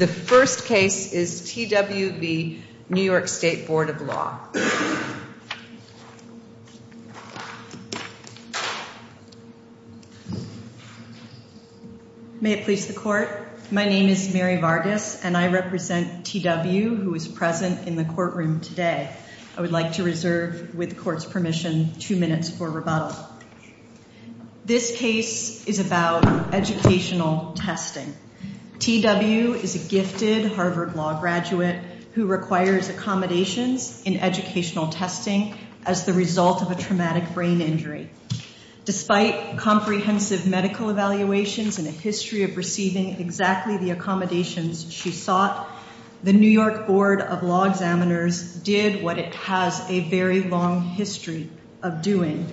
The first case is T.W. v. New York State Board of Law. May it please the Court, my name is Mary Vargas and I represent T.W. who is present in the courtroom today. I would like to reserve, with the Court's permission, two minutes for rebuttal. This case is about educational testing. T.W. is a gifted Harvard Law graduate who requires accommodations in educational testing as the result of a traumatic brain injury. Despite comprehensive medical evaluations and a history of receiving exactly the accommodations she sought, the New York Board of Law Examiners did what it has a very long history of doing.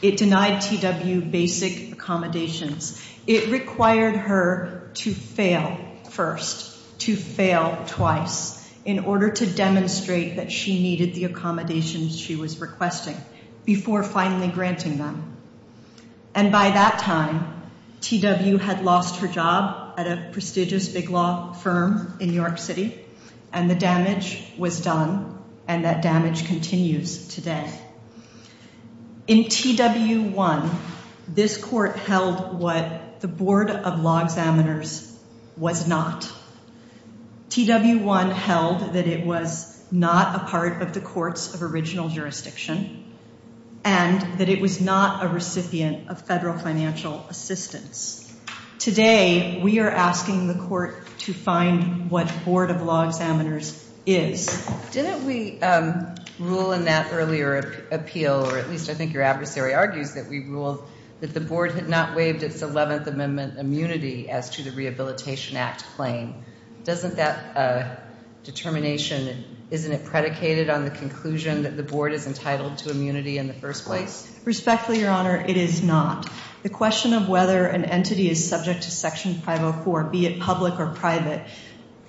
It denied T.W. basic accommodations. It required her to fail first, to fail twice, in order to demonstrate that she needed the accommodations she was requesting before finally granting them. And by that time, T.W. had lost her job at a prestigious big law firm in New York City and the damage was done and that damage continues today. In T.W. 1, this Court held what the Board of Law Examiners was not. T.W. 1 held that it was not a part of the Courts of Original Jurisdiction and that it was not a recipient of federal financial assistance. Today, we are asking the Court to find what the Board of Law Examiners is. Didn't we rule in that earlier appeal, or at least I think your adversary argues that we ruled, that the Board had not waived its 11th Amendment immunity as to the Rehabilitation Act claim? Doesn't that determination, isn't it predicated on the conclusion that the Board is entitled to immunity in the first place? Respectfully, Your Honor, it is not. The question of whether an entity is subject to Section 504, be it public or private,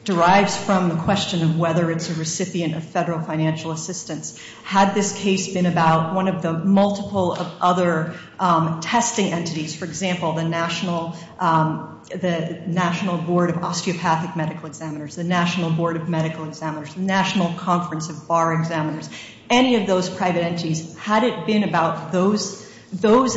derives from the question of whether it's a recipient of federal financial assistance. Had this case been about one of the multiple of other testing entities, for example, the National Board of Osteopathic Medical Examiners, the National Board of Medical Examiners, the National Conference of Bar Examiners, any of those private entities, had it been about those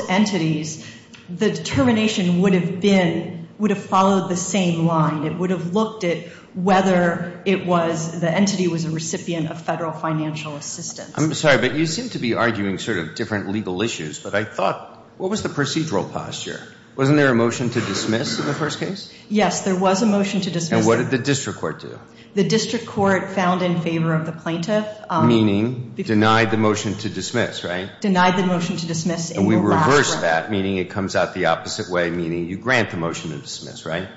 entities, the determination would have been, would have followed the same line. It would have looked at whether it was, the entity was a recipient of federal financial assistance. I'm sorry, but you seem to be arguing sort of different legal issues. But I thought, what was the procedural posture? Wasn't there a motion to dismiss in the first case? Yes, there was a motion to dismiss. And what did the district court do? The district court found in favor of the plaintiff. Meaning denied the motion to dismiss, right? Denied the motion to dismiss. And we reversed that, meaning it comes out the opposite way, meaning you grant the motion to dismiss, right?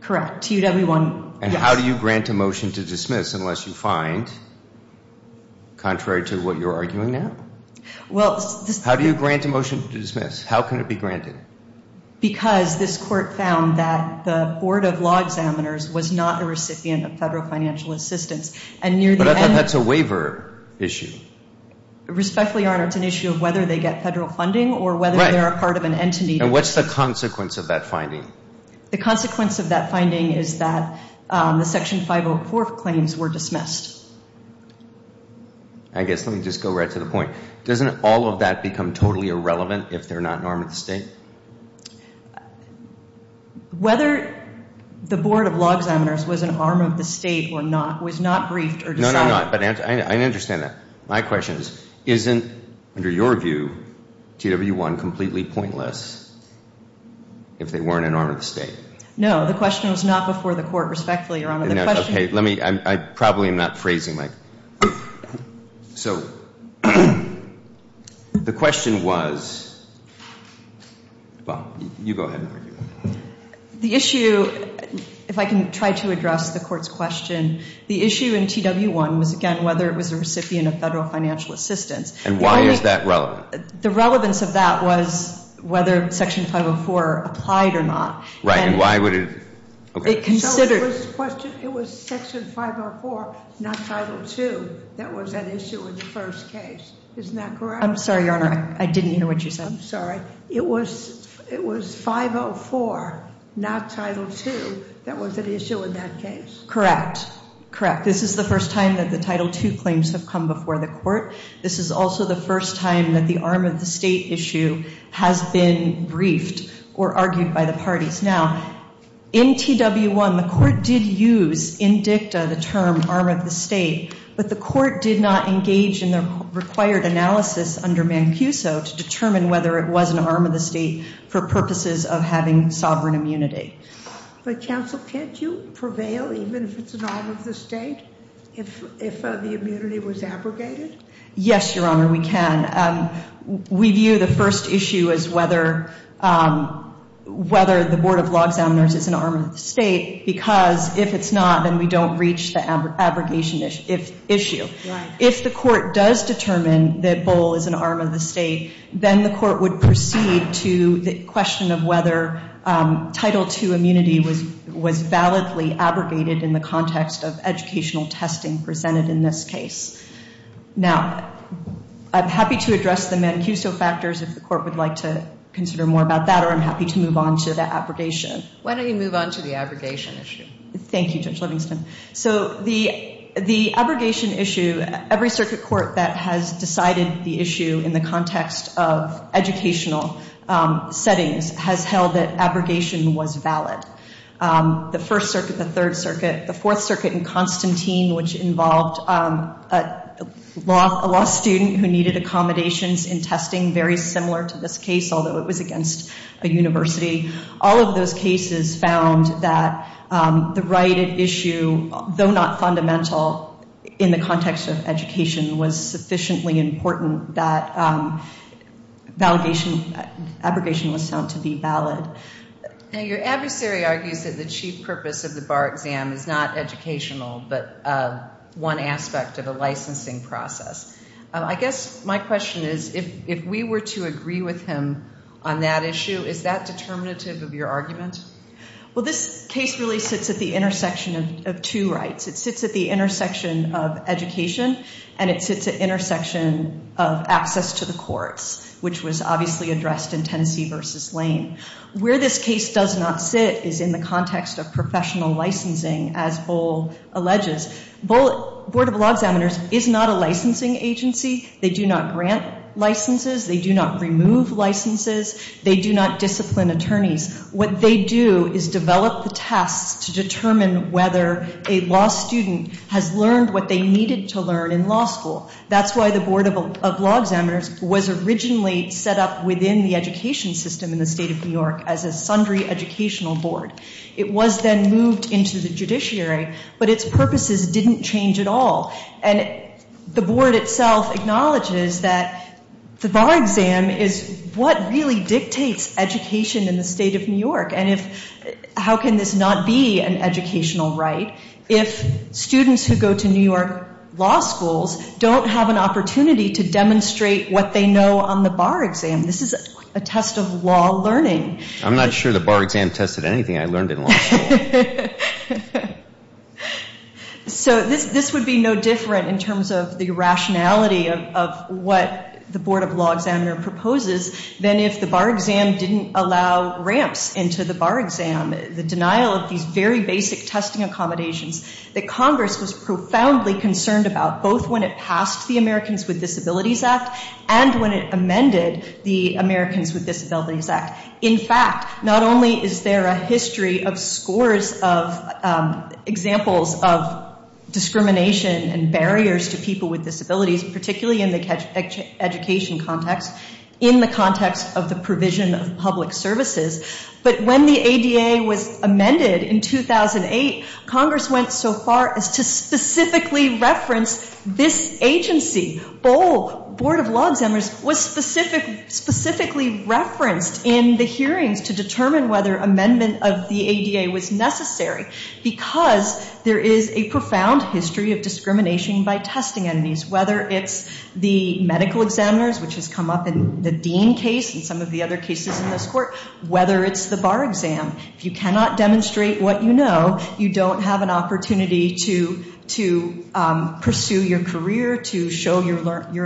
Correct. And how do you grant a motion to dismiss unless you find, contrary to what you're arguing now? How do you grant a motion to dismiss? How can it be granted? Because this court found that the Board of Law Examiners was not a recipient of federal financial assistance. But I thought that's a waiver issue. Respectfully, Your Honor, it's an issue of whether they get federal funding or whether they're a part of an entity. And what's the consequence of that finding? The consequence of that finding is that the Section 504 claims were dismissed. I guess, let me just go right to the point. Doesn't all of that become totally irrelevant if they're not an arm of the state? Whether the Board of Law Examiners was an arm of the state or not was not briefed or decided. No, no, no, but I understand that. My question is, isn't, under your view, TW1 completely pointless if they weren't an arm of the state? No, the question was not before the court, respectfully, Your Honor. Okay, let me, I probably am not phrasing my, so the question was, Bob, you go ahead and argue that. The issue, if I can try to address the court's question, the issue in TW1 was, again, whether it was a recipient of federal financial assistance. And why is that relevant? The relevance of that was whether Section 504 applied or not. Right, and why would it? It considered So the first question, it was Section 504, not Title II, that was at issue in the first case. Isn't that correct? I'm sorry, Your Honor, I didn't hear what you said. I'm sorry. It was 504, not Title II, that was at issue in that case. Correct, correct. This is the first time that the Title II claims have come before the court. This is also the first time that the arm of the state issue has been briefed or argued by the parties. Now, in TW1, the court did use, in dicta, the term arm of the state, but the court did not engage in the required analysis under Mancuso to determine whether it was an arm of the state for purposes of having sovereign immunity. But, counsel, can't you prevail even if it's an arm of the state if the immunity was abrogated? Yes, Your Honor, we can. We view the first issue as whether the Board of Law Examiners is an arm of the state because if it's not, then we don't reach the abrogation issue. If the court does determine that Bull is an arm of the state, then the court would proceed to the question of whether Title II immunity was validly abrogated in the context of educational testing presented in this case. Now, I'm happy to address the Mancuso factors if the court would like to consider more about that, or I'm happy to move on to the abrogation. Why don't you move on to the abrogation issue? Thank you, Judge Livingston. So the abrogation issue, every circuit court that has decided the issue in the context of educational settings has held that abrogation was valid. The First Circuit, the Third Circuit, the Fourth Circuit, and Constantine, which involved a law student who needed accommodations in testing very similar to this case, although it was against a university. All of those cases found that the right at issue, though not fundamental in the context of education, was sufficiently important that abrogation was found to be valid. Now, your adversary argues that the chief purpose of the bar exam is not educational but one aspect of a licensing process. I guess my question is if we were to agree with him on that issue, is that determinative of your argument? Well, this case really sits at the intersection of two rights. It sits at the intersection of education, and it sits at the intersection of access to the courts, which was obviously addressed in Tennessee v. Lane. Where this case does not sit is in the context of professional licensing, as Bull alleges. Board of Law Examiners is not a licensing agency. They do not grant licenses. They do not remove licenses. They do not discipline attorneys. What they do is develop the tests to determine whether a law student has learned what they needed to learn in law school. That's why the Board of Law Examiners was originally set up within the education system in the State of New York as a sundry educational board. It was then moved into the judiciary, but its purposes didn't change at all. And the board itself acknowledges that the bar exam is what really dictates education in the State of New York. And how can this not be an educational right if students who go to New York law schools don't have an opportunity to demonstrate what they know on the bar exam? This is a test of law learning. I'm not sure the bar exam tested anything I learned in law school. So this would be no different in terms of the rationality of what the Board of Law Examiners proposes than if the bar exam didn't allow ramps into the bar exam, the denial of these very basic testing accommodations that Congress was profoundly concerned about, both when it passed the Americans with Disabilities Act and when it amended the Americans with Disabilities Act. In fact, not only is there a history of scores of examples of discrimination and barriers to people with disabilities, particularly in the education context, in the context of the provision of public services, but when the ADA was amended in 2008, Congress went so far as to specifically reference this agency. The Board of Law Examiners was specifically referenced in the hearings to determine whether amendment of the ADA was necessary because there is a profound history of discrimination by testing entities, whether it's the medical examiners, which has come up in the Dean case and some of the other cases in this court, whether it's the bar exam. If you cannot demonstrate what you know, you don't have an opportunity to pursue your career, to show your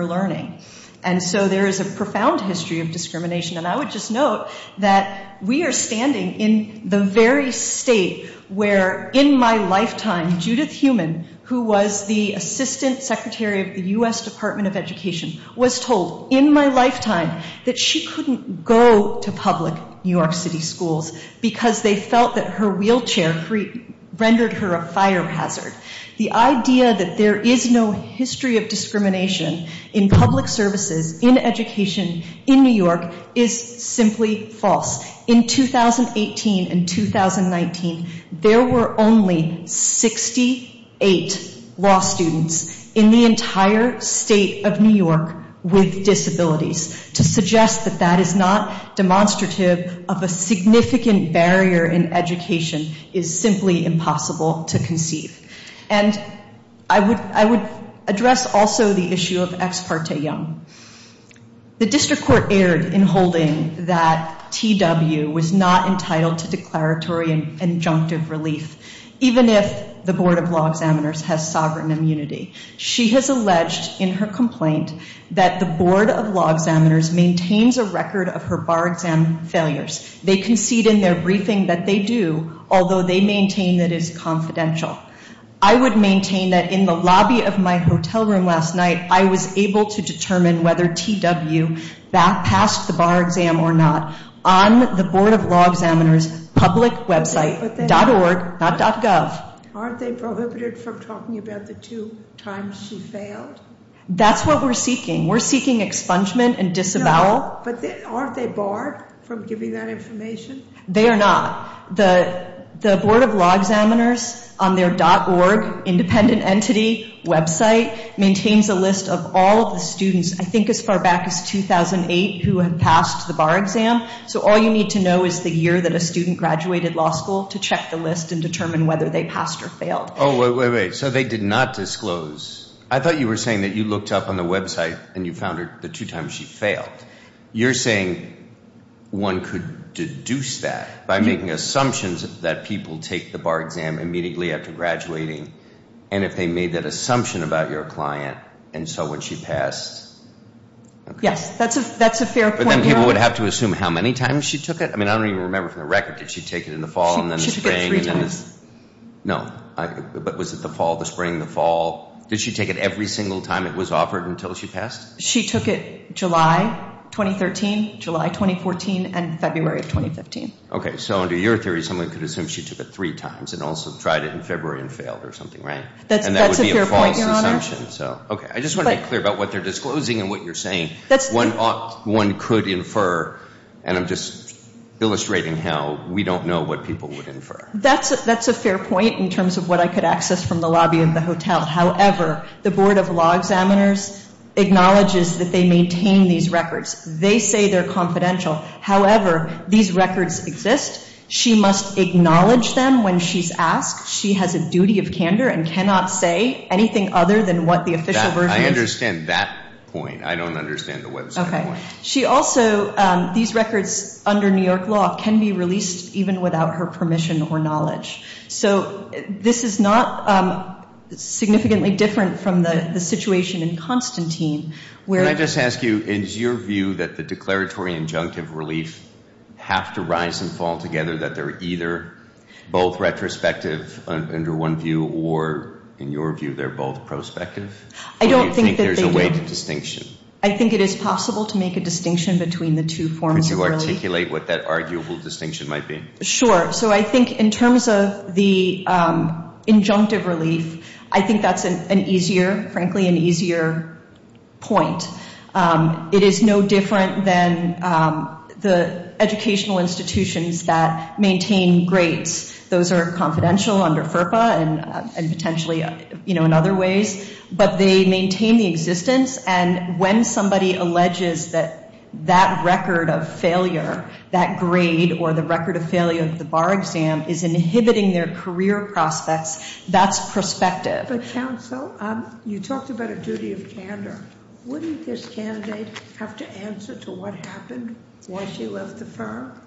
learning. And so there is a profound history of discrimination. And I would just note that we are standing in the very state where, in my lifetime, Judith Heumann, who was the Assistant Secretary of the U.S. Department of Education, was told in my lifetime that she couldn't go to public New York City schools because they felt that her wheelchair rendered her a fire hazard. The idea that there is no history of discrimination in public services, in education, in New York, is simply false. In 2018 and 2019, there were only 68 law students in the entire state of New York with disabilities. To suggest that that is not demonstrative of a significant barrier in education is simply impossible to conceive. And I would address also the issue of Ex parte Young. The district court erred in holding that TW was not entitled to declaratory and injunctive relief, even if the Board of Law Examiners has sovereign immunity. She has alleged in her complaint that the Board of Law Examiners maintains a record of her bar exam failures. They concede in their briefing that they do, although they maintain that it is confidential. I would maintain that in the lobby of my hotel room last night, I was able to determine whether TW passed the bar exam or not on the Board of Law Examiners' public website, .org, not .gov. Aren't they prohibited from talking about the two times she failed? That's what we're seeking. We're seeking expungement and disavowal. But aren't they barred from giving that information? They are not. The Board of Law Examiners, on their .org independent entity website, maintains a list of all of the students, I think as far back as 2008, who had passed the bar exam. So all you need to know is the year that a student graduated law school to check the list and determine whether they passed or failed. Oh, wait, wait, wait. So they did not disclose. I thought you were saying that you looked up on the website and you found the two times she failed. You're saying one could deduce that by making assumptions that people take the bar exam immediately after graduating, and if they made that assumption about your client and so when she passed. Yes, that's a fair point. But then people would have to assume how many times she took it? I mean, I don't even remember from the record. Did she take it in the fall and then the spring? She took it three times. No. But was it the fall, the spring, the fall? Did she take it every single time it was offered until she passed? She took it July 2013, July 2014, and February of 2015. Okay. So under your theory, someone could assume she took it three times and also tried it in February and failed or something, right? And that would be a false assumption. That's a fair point, Your Honor. Okay. I just want to be clear about what they're disclosing and what you're saying. One could infer, and I'm just illustrating how we don't know what people would infer. That's a fair point in terms of what I could access from the lobby of the hotel. However, the Board of Law Examiners acknowledges that they maintain these records. They say they're confidential. However, these records exist. She must acknowledge them when she's asked. She has a duty of candor and cannot say anything other than what the official version is. I understand that point. I don't understand the website point. Okay. She also, these records under New York law can be released even without her permission or knowledge. So this is not significantly different from the situation in Constantine. Can I just ask you, is your view that the declaratory injunctive relief have to rise and fall together, that they're either both retrospective under one view or, in your view, they're both prospective? I don't think that they do. Or do you think there's a way to distinction? I think it is possible to make a distinction between the two forms of relief. Could you articulate what that arguable distinction might be? Sure. So I think in terms of the injunctive relief, I think that's an easier, frankly, an easier point. It is no different than the educational institutions that maintain grades. Those are confidential under FERPA and potentially, you know, in other ways. But they maintain the existence. And when somebody alleges that that record of failure, that grade, or the record of failure of the bar exam is inhibiting their career prospects, that's prospective. But counsel, you talked about a duty of candor. Wouldn't this candidate have to answer to what happened when she left the firm?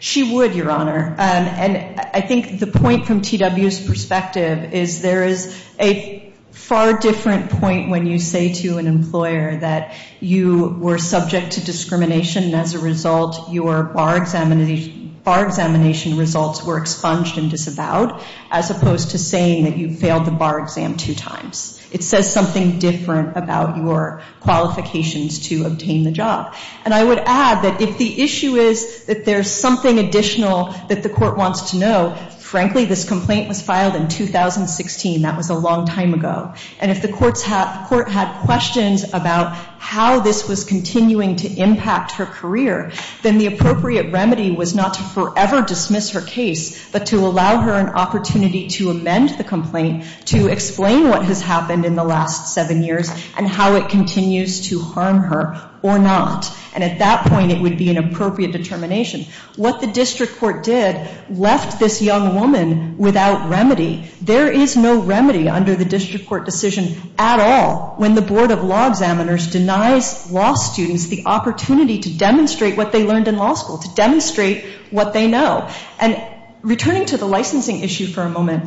She would, Your Honor. And I think the point from TW's perspective is there is a far different point when you say to an employer that you were subject to discrimination and, as a result, your bar examination results were expunged and disavowed, as opposed to saying that you failed the bar exam two times. It says something different about your qualifications to obtain the job. And I would add that if the issue is that there's something additional that the court wants to know, frankly, this complaint was filed in 2016. That was a long time ago. And if the court had questions about how this was continuing to impact her career, then the appropriate remedy was not to forever dismiss her case, but to allow her an opportunity to amend the complaint to explain what has happened in the last seven years and how it continues to harm her or not. And at that point, it would be an appropriate determination. What the district court did left this young woman without remedy. There is no remedy under the district court decision at all when the Board of Law Examiners denies law students the opportunity to demonstrate what they learned in law school, to demonstrate what they know. And returning to the licensing issue for a moment,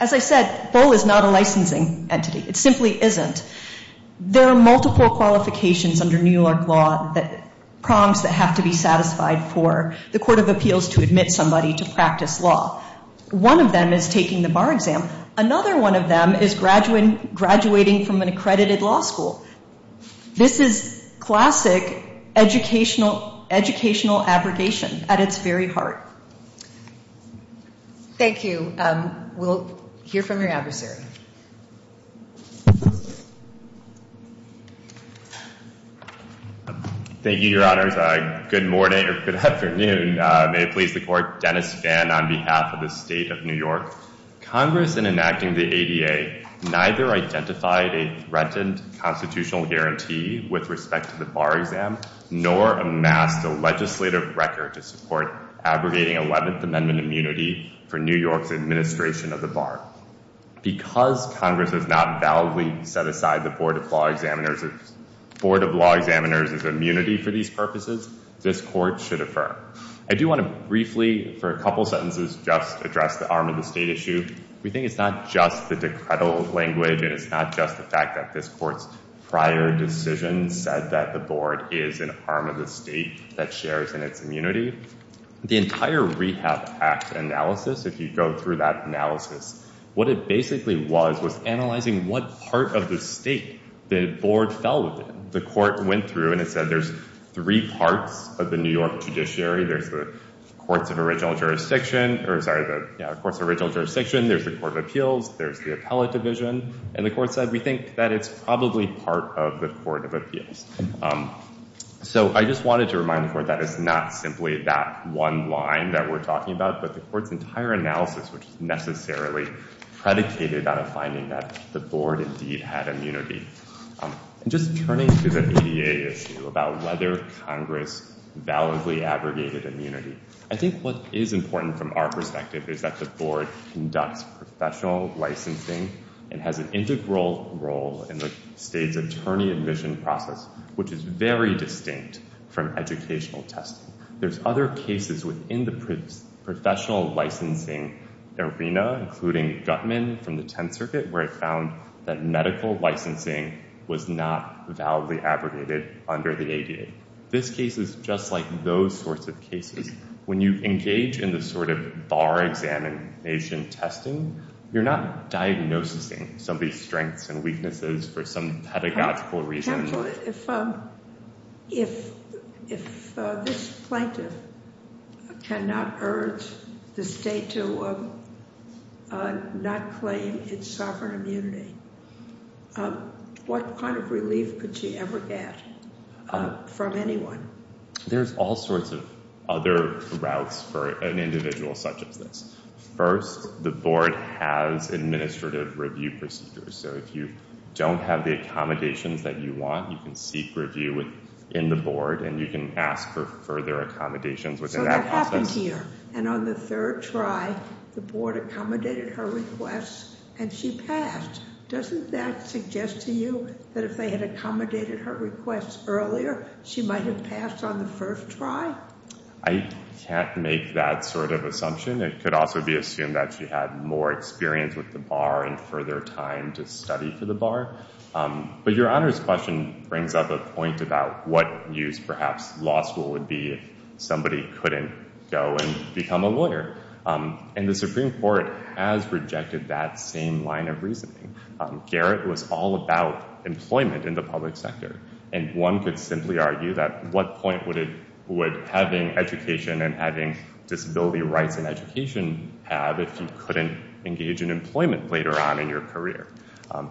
as I said, Boehl is not a licensing entity. It simply isn't. There are multiple qualifications under New York law that prompts that have to be satisfied for the court of appeals to admit somebody to practice law. One of them is taking the bar exam. Another one of them is graduating from an accredited law school. This is classic educational abrogation at its very heart. Thank you. We'll hear from your adversary. Thank you, Your Honors. Good morning or good afternoon. May it please the Court. Dennis Fan on behalf of the State of New York. Congress, in enacting the ADA, neither identified a threatened constitutional guarantee with respect to the bar exam, nor amassed a legislative record to support abrogating 11th Amendment immunity for New York's administration of the bar. Because Congress has not validly set aside the Board of Law Examiners' immunity for these purposes, this Court should affirm. I do want to briefly, for a couple sentences, just address the arm of the State issue. We think it's not just the decredible language and it's not just the fact that this Court's prior decision said that the Board is an arm of the State that shares in its immunity. The entire Rehab Act analysis, if you go through that analysis, what it basically was was analyzing what part of the State the Board fell within. The Court went through and it said there's three parts of the New York judiciary. There's the Courts of Original Jurisdiction, there's the Court of Appeals, there's the Appellate Division. And the Court said we think that it's probably part of the Court of Appeals. So I just wanted to remind the Court that it's not simply that one line that we're talking about, but the Court's entire analysis, which is necessarily predicated on a finding that the Board indeed had immunity. And just turning to the ADA issue about whether Congress validly aggregated immunity, I think what is important from our perspective is that the Board conducts professional licensing and has an integral role in the State's attorney admission process, which is very distinct from educational testing. There's other cases within the professional licensing arena, including Gutman from the Tenth Circuit, where it found that medical licensing was not validly aggregated under the ADA. This case is just like those sorts of cases. When you engage in the sort of bar examination testing, you're not diagnosing somebody's strengths and weaknesses for some pedagogical reason. If this plaintiff cannot urge the State to not claim its sovereign immunity, what kind of relief could she ever get from anyone? There's all sorts of other routes for an individual such as this. First, the Board has administrative review procedures. So if you don't have the accommodations that you want, you can seek review in the Board, and you can ask for further accommodations within that process. So that happened here. And on the third try, the Board accommodated her requests, and she passed. Doesn't that suggest to you that if they had accommodated her requests earlier, she might have passed on the first try? I can't make that sort of assumption. It could also be assumed that she had more experience with the bar and further time to study for the bar. But Your Honor's question brings up a point about what use, perhaps, law school would be if somebody couldn't go and become a lawyer. And the Supreme Court has rejected that same line of reasoning. Garrett was all about employment in the public sector, and one could simply argue that what point would having education and having disability rights in education have if you couldn't engage in employment later on in your career? I'm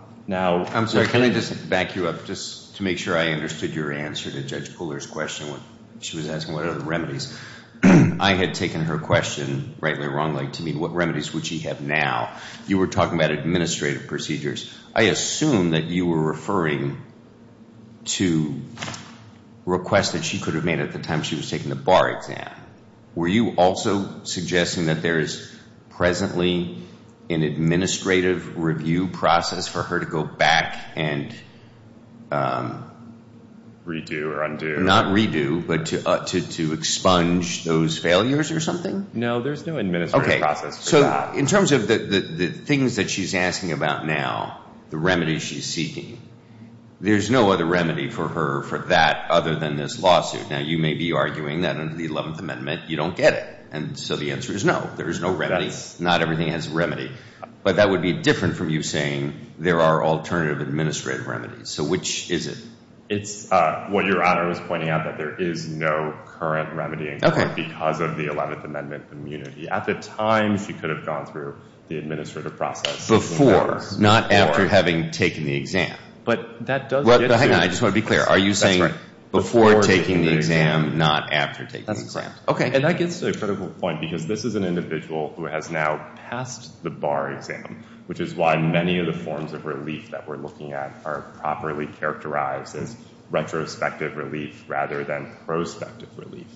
sorry. Can I just back you up just to make sure I understood your answer to Judge Puller's question? She was asking what are the remedies. I had taken her question, rightly or wrongly, to mean what remedies would she have now. You were talking about administrative procedures. I assume that you were referring to requests that she could have made at the time she was taking the bar exam. Were you also suggesting that there is presently an administrative review process for her to go back and redo or undo? Not redo, but to expunge those failures or something? No, there's no administrative process for that. In terms of the things that she's asking about now, the remedies she's seeking, there's no other remedy for her for that other than this lawsuit. Now, you may be arguing that under the 11th Amendment you don't get it, and so the answer is no. There is no remedy. Not everything has a remedy. But that would be different from you saying there are alternative administrative remedies. So which is it? It's what Your Honor was pointing out, that there is no current remedy in court because of the 11th Amendment immunity. At the time, she could have gone through the administrative process. Before, not after having taken the exam. But that does get to... Hang on, I just want to be clear. Are you saying before taking the exam, not after taking the exam? That's correct. Okay. And that gets to a critical point because this is an individual who has now passed the bar exam, which is why many of the forms of relief that we're looking at are properly characterized as retrospective relief rather than prospective relief.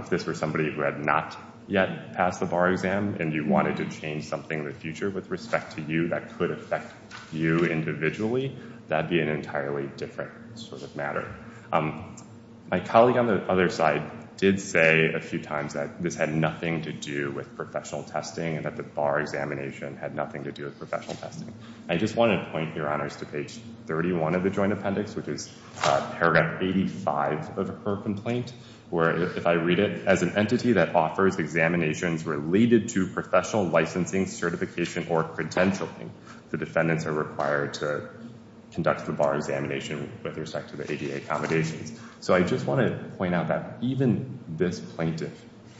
If this were somebody who had not yet passed the bar exam and you wanted to change something in the future with respect to you that could affect you individually, that would be an entirely different sort of matter. My colleague on the other side did say a few times that this had nothing to do with professional testing and that the bar examination had nothing to do with professional testing. I just want to point, Your Honors, to page 31 of the Joint Appendix, which is paragraph 85 of her complaint, where if I read it, as an entity that offers examinations related to professional licensing, certification, or credentialing, the defendants are required to conduct the bar examination with respect to the ADA accommodations. So I just want to point out that even this plaintiff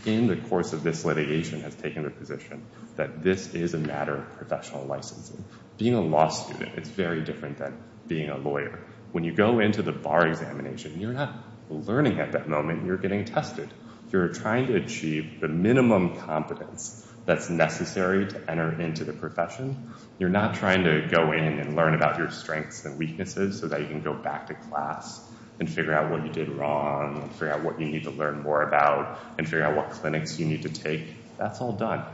in the course of this litigation has taken the position that this is a matter of professional licensing. Being a law student, it's very different than being a lawyer. When you go into the bar examination, you're not learning at that moment. You're getting tested. You're trying to achieve the minimum competence that's necessary to enter into the profession. You're not trying to go in and learn about your strengths and weaknesses so that you can go back to class and figure out what you did wrong, figure out what you need to learn more about, and figure out what clinics you need to take. That's all done.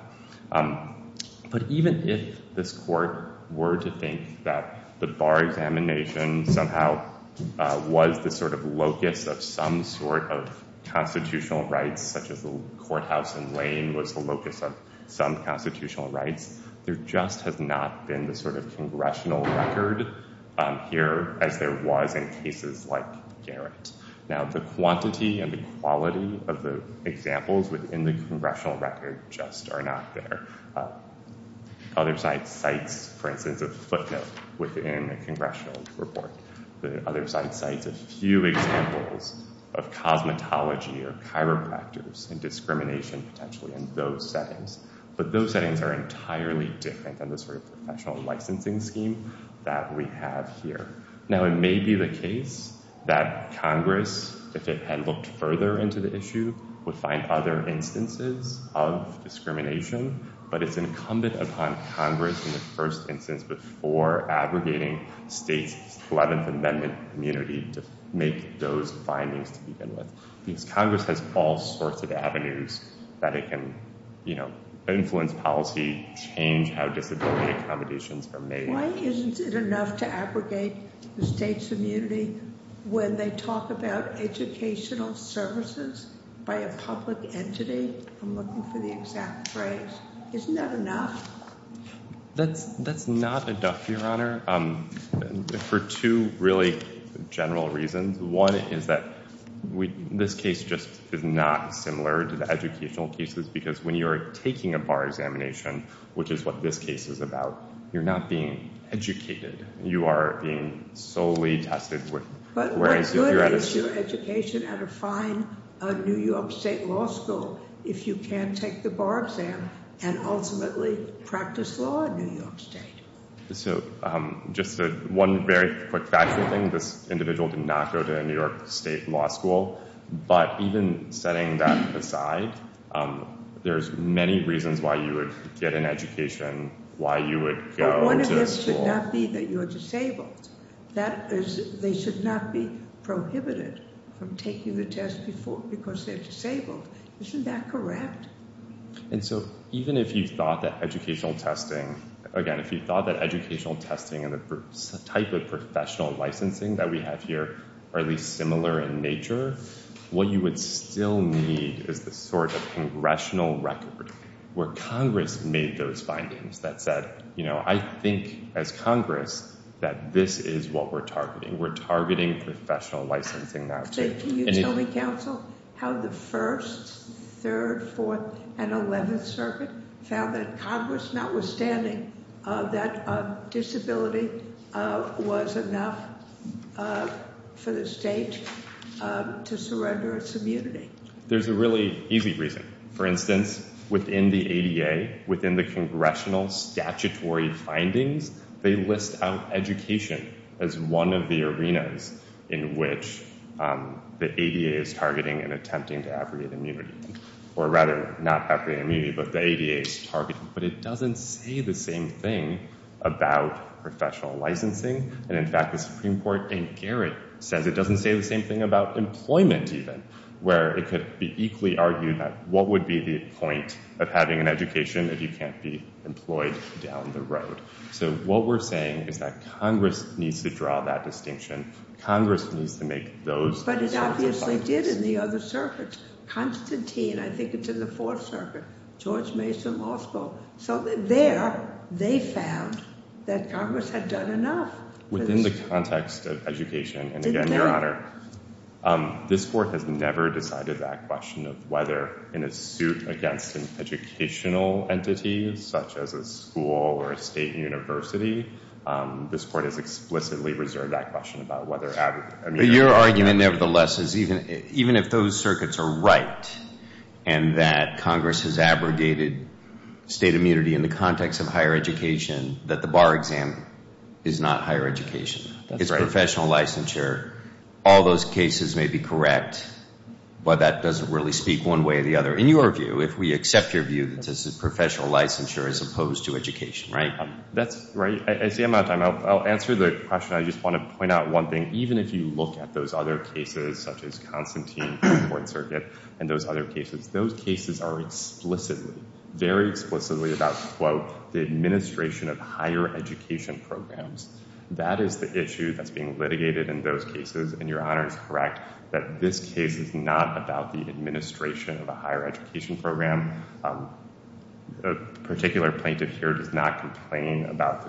But even if this court were to think that the bar examination somehow was the sort of locus of some sort of constitutional rights, such as the courthouse in Lane was the locus of some constitutional rights, there just has not been the sort of congressional record here as there was in cases like Garrett. Now, the quantity and the quality of the examples within the congressional record just are not there. Other sites, for instance, a footnote within a congressional report. The other site cites a few examples of cosmetology or chiropractors and discrimination potentially in those settings. But those settings are entirely different than the sort of professional licensing scheme that we have here. Now, it may be the case that Congress, if it had looked further into the issue, would find other instances of discrimination, but it's incumbent upon Congress in the first instance before aggregating states' 11th Amendment immunity to make those findings to begin with. Because Congress has all sorts of avenues that it can influence policy, change how disability accommodations are made. Why isn't it enough to aggregate the states' immunity when they talk about educational services by a public entity? I'm looking for the exact phrase. Isn't that enough? That's not enough, Your Honor, for two really general reasons. One is that this case just is not similar to the educational cases because when you're taking a bar examination, which is what this case is about, you're not being educated. You are being solely tested. But what good is your education at a fine New York State law school if you can't take the bar exam and ultimately practice law in New York State? So just one very quick factual thing. This individual did not go to a New York State law school. But even setting that aside, there's many reasons why you would get an education, why you would go to a school. But one of them should not be that you're disabled. They should not be prohibited from taking the test because they're disabled. Isn't that correct? And so even if you thought that educational testing, again, if you thought that educational testing and the type of professional licensing that we have here are at least similar in nature, what you would still need is the sort of congressional record where Congress made those findings that said, you know, I think as Congress that this is what we're targeting. We're targeting professional licensing now. Can you tell me, counsel, how the 1st, 3rd, 4th, and 11th Circuit found that Congress, notwithstanding that disability, was enough for the state to surrender its immunity? There's a really easy reason. For instance, within the ADA, within the congressional statutory findings, they list out education as one of the arenas in which the ADA is targeting and attempting to aggregate immunity. Or rather, not aggregate immunity, but the ADA is targeting. But it doesn't say the same thing about professional licensing. And in fact, the Supreme Court in Garrett says it doesn't say the same thing about employment even, where it could be equally argued that what would be the point of having an education if you can't be employed down the road. So what we're saying is that Congress needs to draw that distinction. Congress needs to make those sorts of findings. But it obviously did in the other circuits. Constantine, I think it's in the 4th Circuit, George Mason Law School. So there, they found that Congress had done enough. Within the context of education, and again, Your Honor, this Court has never decided that question of whether in a suit against an educational entity, such as a school or a state university, this Court has explicitly reserved that question about whether aggregate immunity. But your argument, nevertheless, is even if those circuits are right and that Congress has abrogated state immunity in the context of higher education, that the bar exam is not higher education. That's right. Professional licensure, all those cases may be correct, but that doesn't really speak one way or the other. In your view, if we accept your view that this is professional licensure as opposed to education, right? That's right. I see I'm out of time. I'll answer the question. I just want to point out one thing. Even if you look at those other cases, such as Constantine in the 4th Circuit and those other cases, those cases are explicitly, very explicitly about, quote, the administration of higher education programs. That is the issue that's being litigated in those cases, and your Honor is correct that this case is not about the administration of a higher education program. A particular plaintiff here does not complain about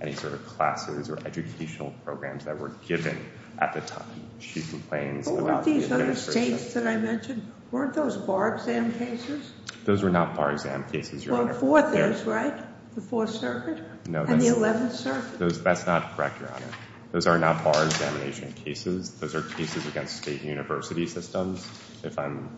any sort of classes or educational programs that were given at the time. She complains about the administration. What were these other states that I mentioned? Weren't those bar exam cases? Those were not bar exam cases, Your Honor. Well, 4th is, right? The 4th Circuit? No. And the 11th Circuit? That's not correct, Your Honor. Those are not bar examination cases. Those are cases against state university systems, if I'm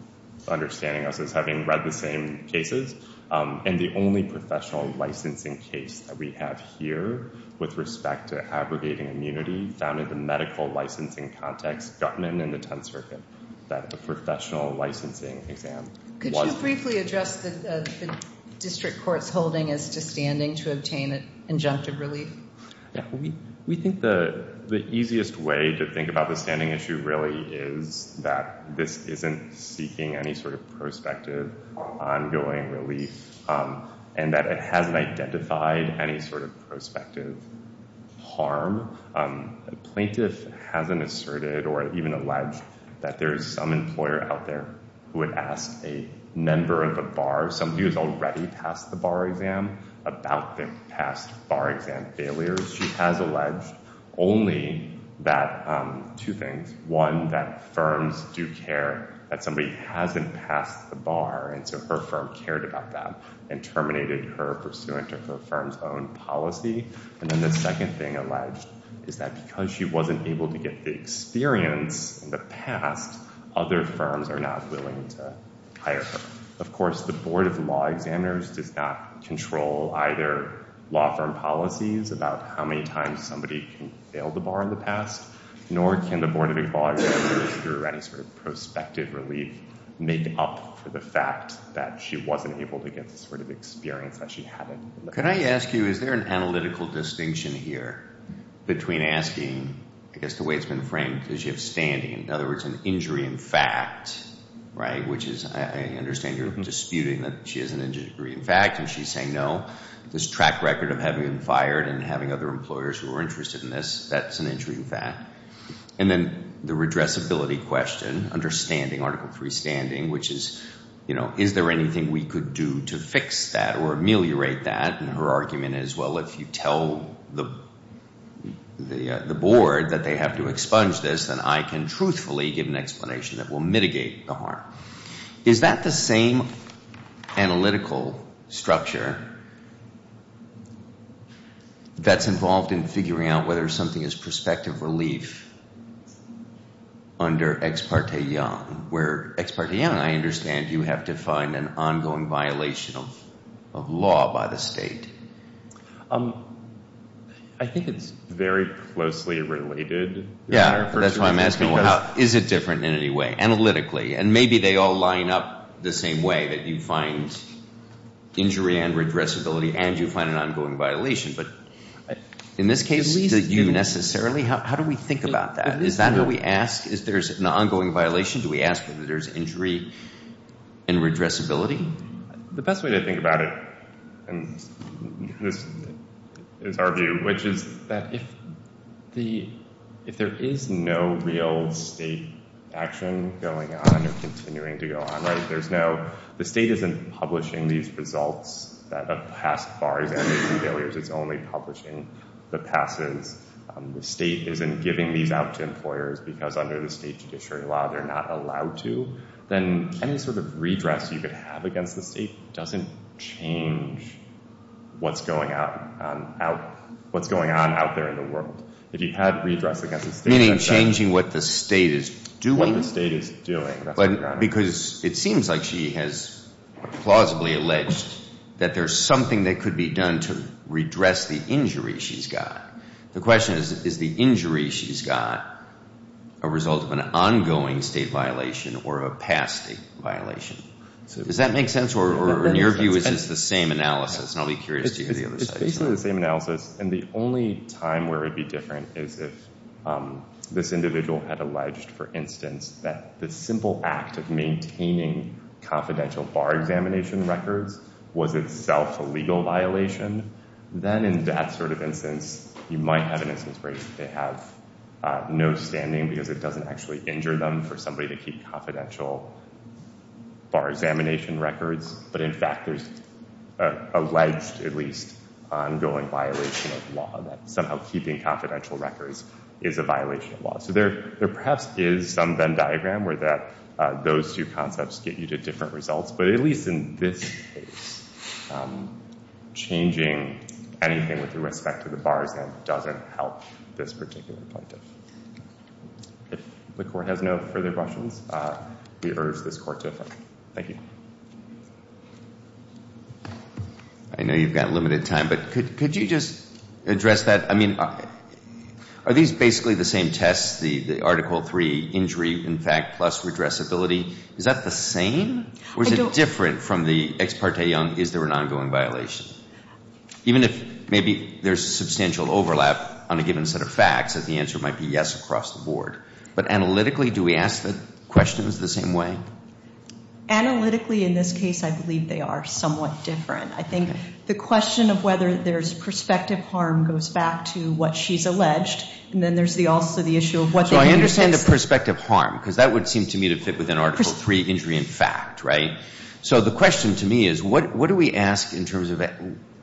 understanding this as having read the same cases. And the only professional licensing case that we have here with respect to abrogating immunity found in the medical licensing context, Gutman in the 10th Circuit, that the professional licensing exam was. Could you briefly address the district court's holding as to standing to obtain injunctive relief? We think the easiest way to think about the standing issue really is that this isn't seeking any sort of prospective ongoing relief and that it hasn't identified any sort of prospective harm. A plaintiff hasn't asserted or even alleged that there is some employer out there who would ask a member of a bar, somebody who has already passed the bar exam, about their past bar exam failures. She has alleged only two things. One, that firms do care that somebody hasn't passed the bar, and so her firm cared about that and terminated her pursuant of her firm's own policy. And then the second thing alleged is that because she wasn't able to get the experience in the past, other firms are not willing to hire her. Of course, the Board of Law Examiners does not control either law firm policies about how many times somebody can fail the bar in the past, nor can the Board of Equalities, through any sort of prospective relief, make up for the fact that she wasn't able to get the sort of experience that she had in the past. Could I ask you, is there an analytical distinction here between asking, I guess the way it's been framed, does she have standing? In other words, an injury in fact, right? Which is, I understand you're disputing that she has an injury in fact, and she's saying no. This track record of having been fired and having other employers who are interested in this, that's an injury in fact. And then the redressability question, understanding Article III standing, which is, you know, is there anything we could do to fix that or ameliorate that? And her argument is, well, if you tell the board that they have to expunge this, then I can truthfully give an explanation that will mitigate the harm. Is that the same analytical structure that's involved in figuring out whether something is prospective relief under Ex parte Young? Where Ex parte Young, I understand, you have to find an ongoing violation of law by the state. I think it's very closely related. Yeah, that's why I'm asking, is it different in any way, analytically? And maybe they all line up the same way, that you find injury and redressability and you find an ongoing violation. But in this case, do you necessarily? How do we think about that? Is that how we ask? Is there an ongoing violation? Do we ask whether there's injury and redressability? The best way to think about it, and this is our view, which is that if there is no real state action going on or continuing to go on, right, there's no the state isn't publishing these results of past FAR examinations failures. It's only publishing the passes. The state isn't giving these out to employers because under the state judiciary law they're not allowed to. Then any sort of redress you could have against the state doesn't change what's going on out there in the world. If you had redress against the state. Meaning changing what the state is doing? What the state is doing. Because it seems like she has plausibly alleged that there's something that could be done to redress the injury she's got. The question is, is the injury she's got a result of an ongoing state violation or a past state violation? Does that make sense? Or in your view is this the same analysis? And I'll be curious to hear the other side. It's basically the same analysis. And the only time where it would be different is if this individual had alleged, for instance, that the simple act of maintaining confidential FAR examination records was itself a legal violation. Then in that sort of instance, you might have an instance where they have no standing because it doesn't actually injure them for somebody to keep confidential FAR examination records. But in fact there's alleged, at least, ongoing violation of law that somehow keeping confidential records is a violation of law. So there perhaps is some Venn diagram where those two concepts get you to different results. But at least in this case, changing anything with respect to the bars end doesn't help this particular plaintiff. If the Court has no further questions, we urge this Court to adjourn. Thank you. I know you've got limited time, but could you just address that? I mean, are these basically the same tests, the Article III injury, in fact, plus redressability? Is that the same? Or is it different from the Ex parte Young, is there an ongoing violation? Even if maybe there's substantial overlap on a given set of facts, the answer might be yes across the board. But analytically, do we ask the questions the same way? Analytically, in this case, I believe they are somewhat different. I think the question of whether there's prospective harm goes back to what she's alleged, and then there's also the issue of what the individual says. And the prospective harm, because that would seem to me to fit within Article III injury in fact, right? So the question to me is, what do we ask in terms of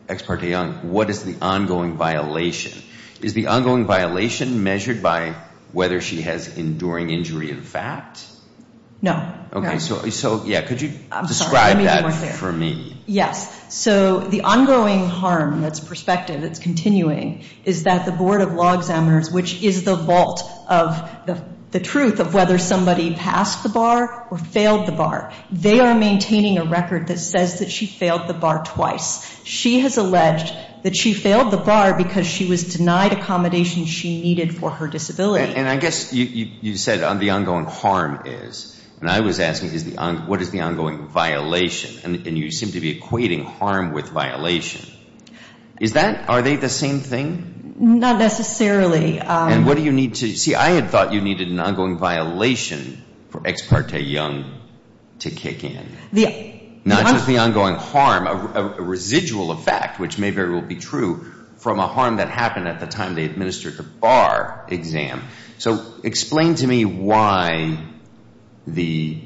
Ex parte Young? What is the ongoing violation? Is the ongoing violation measured by whether she has enduring injury in fact? No. Okay, so yeah, could you describe that for me? Yes. So the ongoing harm that's prospective, that's continuing, is that the Board of Law Examiners, which is the vault of the truth of whether somebody passed the bar or failed the bar, they are maintaining a record that says that she failed the bar twice. She has alleged that she failed the bar because she was denied accommodation she needed for her disability. And I guess you said the ongoing harm is, and I was asking, what is the ongoing violation? And you seem to be equating harm with violation. Is that, are they the same thing? Not necessarily. And what do you need to, see, I had thought you needed an ongoing violation for Ex parte Young to kick in. Not just the ongoing harm, a residual effect, which may very well be true, from a harm that happened at the time they administered the bar exam. So explain to me why the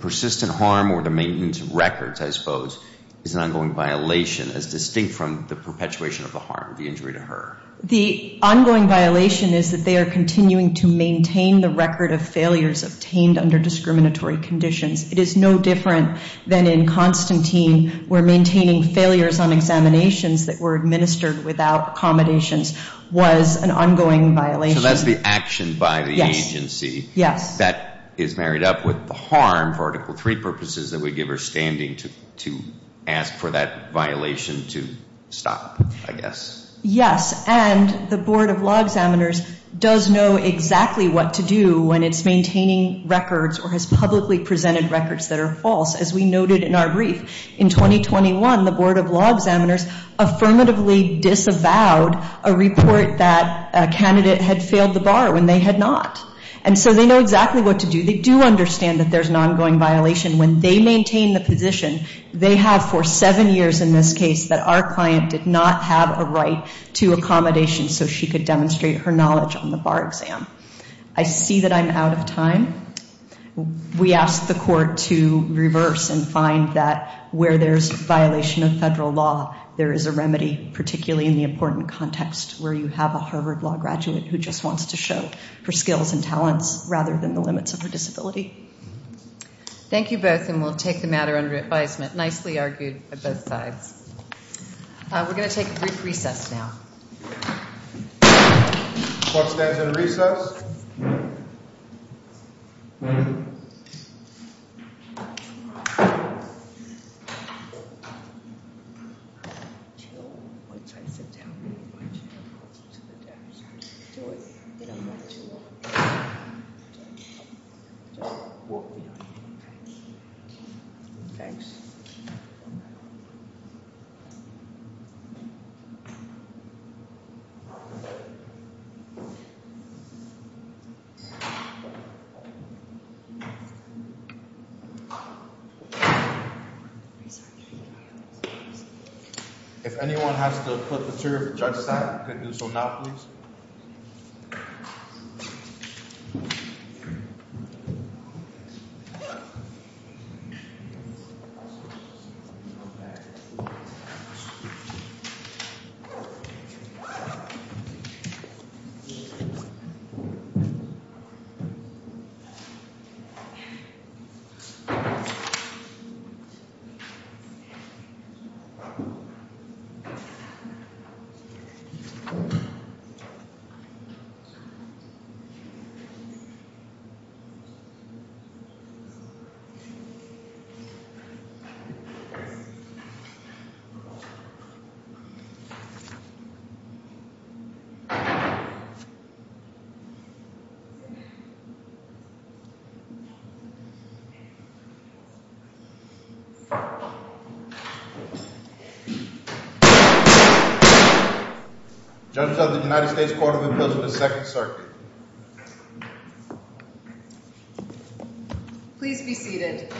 persistent harm or the maintenance records, I suppose, is an ongoing violation as distinct from the perpetuation of the harm, the injury to her. The ongoing violation is that they are continuing to maintain the record of failures obtained under discriminatory conditions. It is no different than in Constantine where maintaining failures on examinations that were administered without accommodations was an ongoing violation. So that's the action by the agency. Yes. That is married up with the harm for Article III purposes that would give her standing to ask for that violation to stop, I guess. Yes, and the Board of Law Examiners does know exactly what to do when it's maintaining records or has publicly presented records that are false. As we noted in our brief, in 2021, the Board of Law Examiners affirmatively disavowed a report that a candidate had failed the bar when they had not. And so they know exactly what to do. They do understand that there's an ongoing violation. When they maintain the position, they have for seven years in this case that our client did not have a right to accommodations so she could demonstrate her knowledge on the bar exam. I see that I'm out of time. We ask the court to reverse and find that where there's violation of federal law, there is a remedy, particularly in the important context where you have a Harvard Law graduate who just wants to show her skills and talents rather than the limits of her disability. Thank you both, and we'll take the matter under advisement. Nicely argued by both sides. We're going to take a brief recess now. Court stands in recess. If anyone has to put the chair to the judge's side, they can do so now, please. Thank you. Judges of the United States Court of Appeals in the second circuit. Please be seated. Whatever.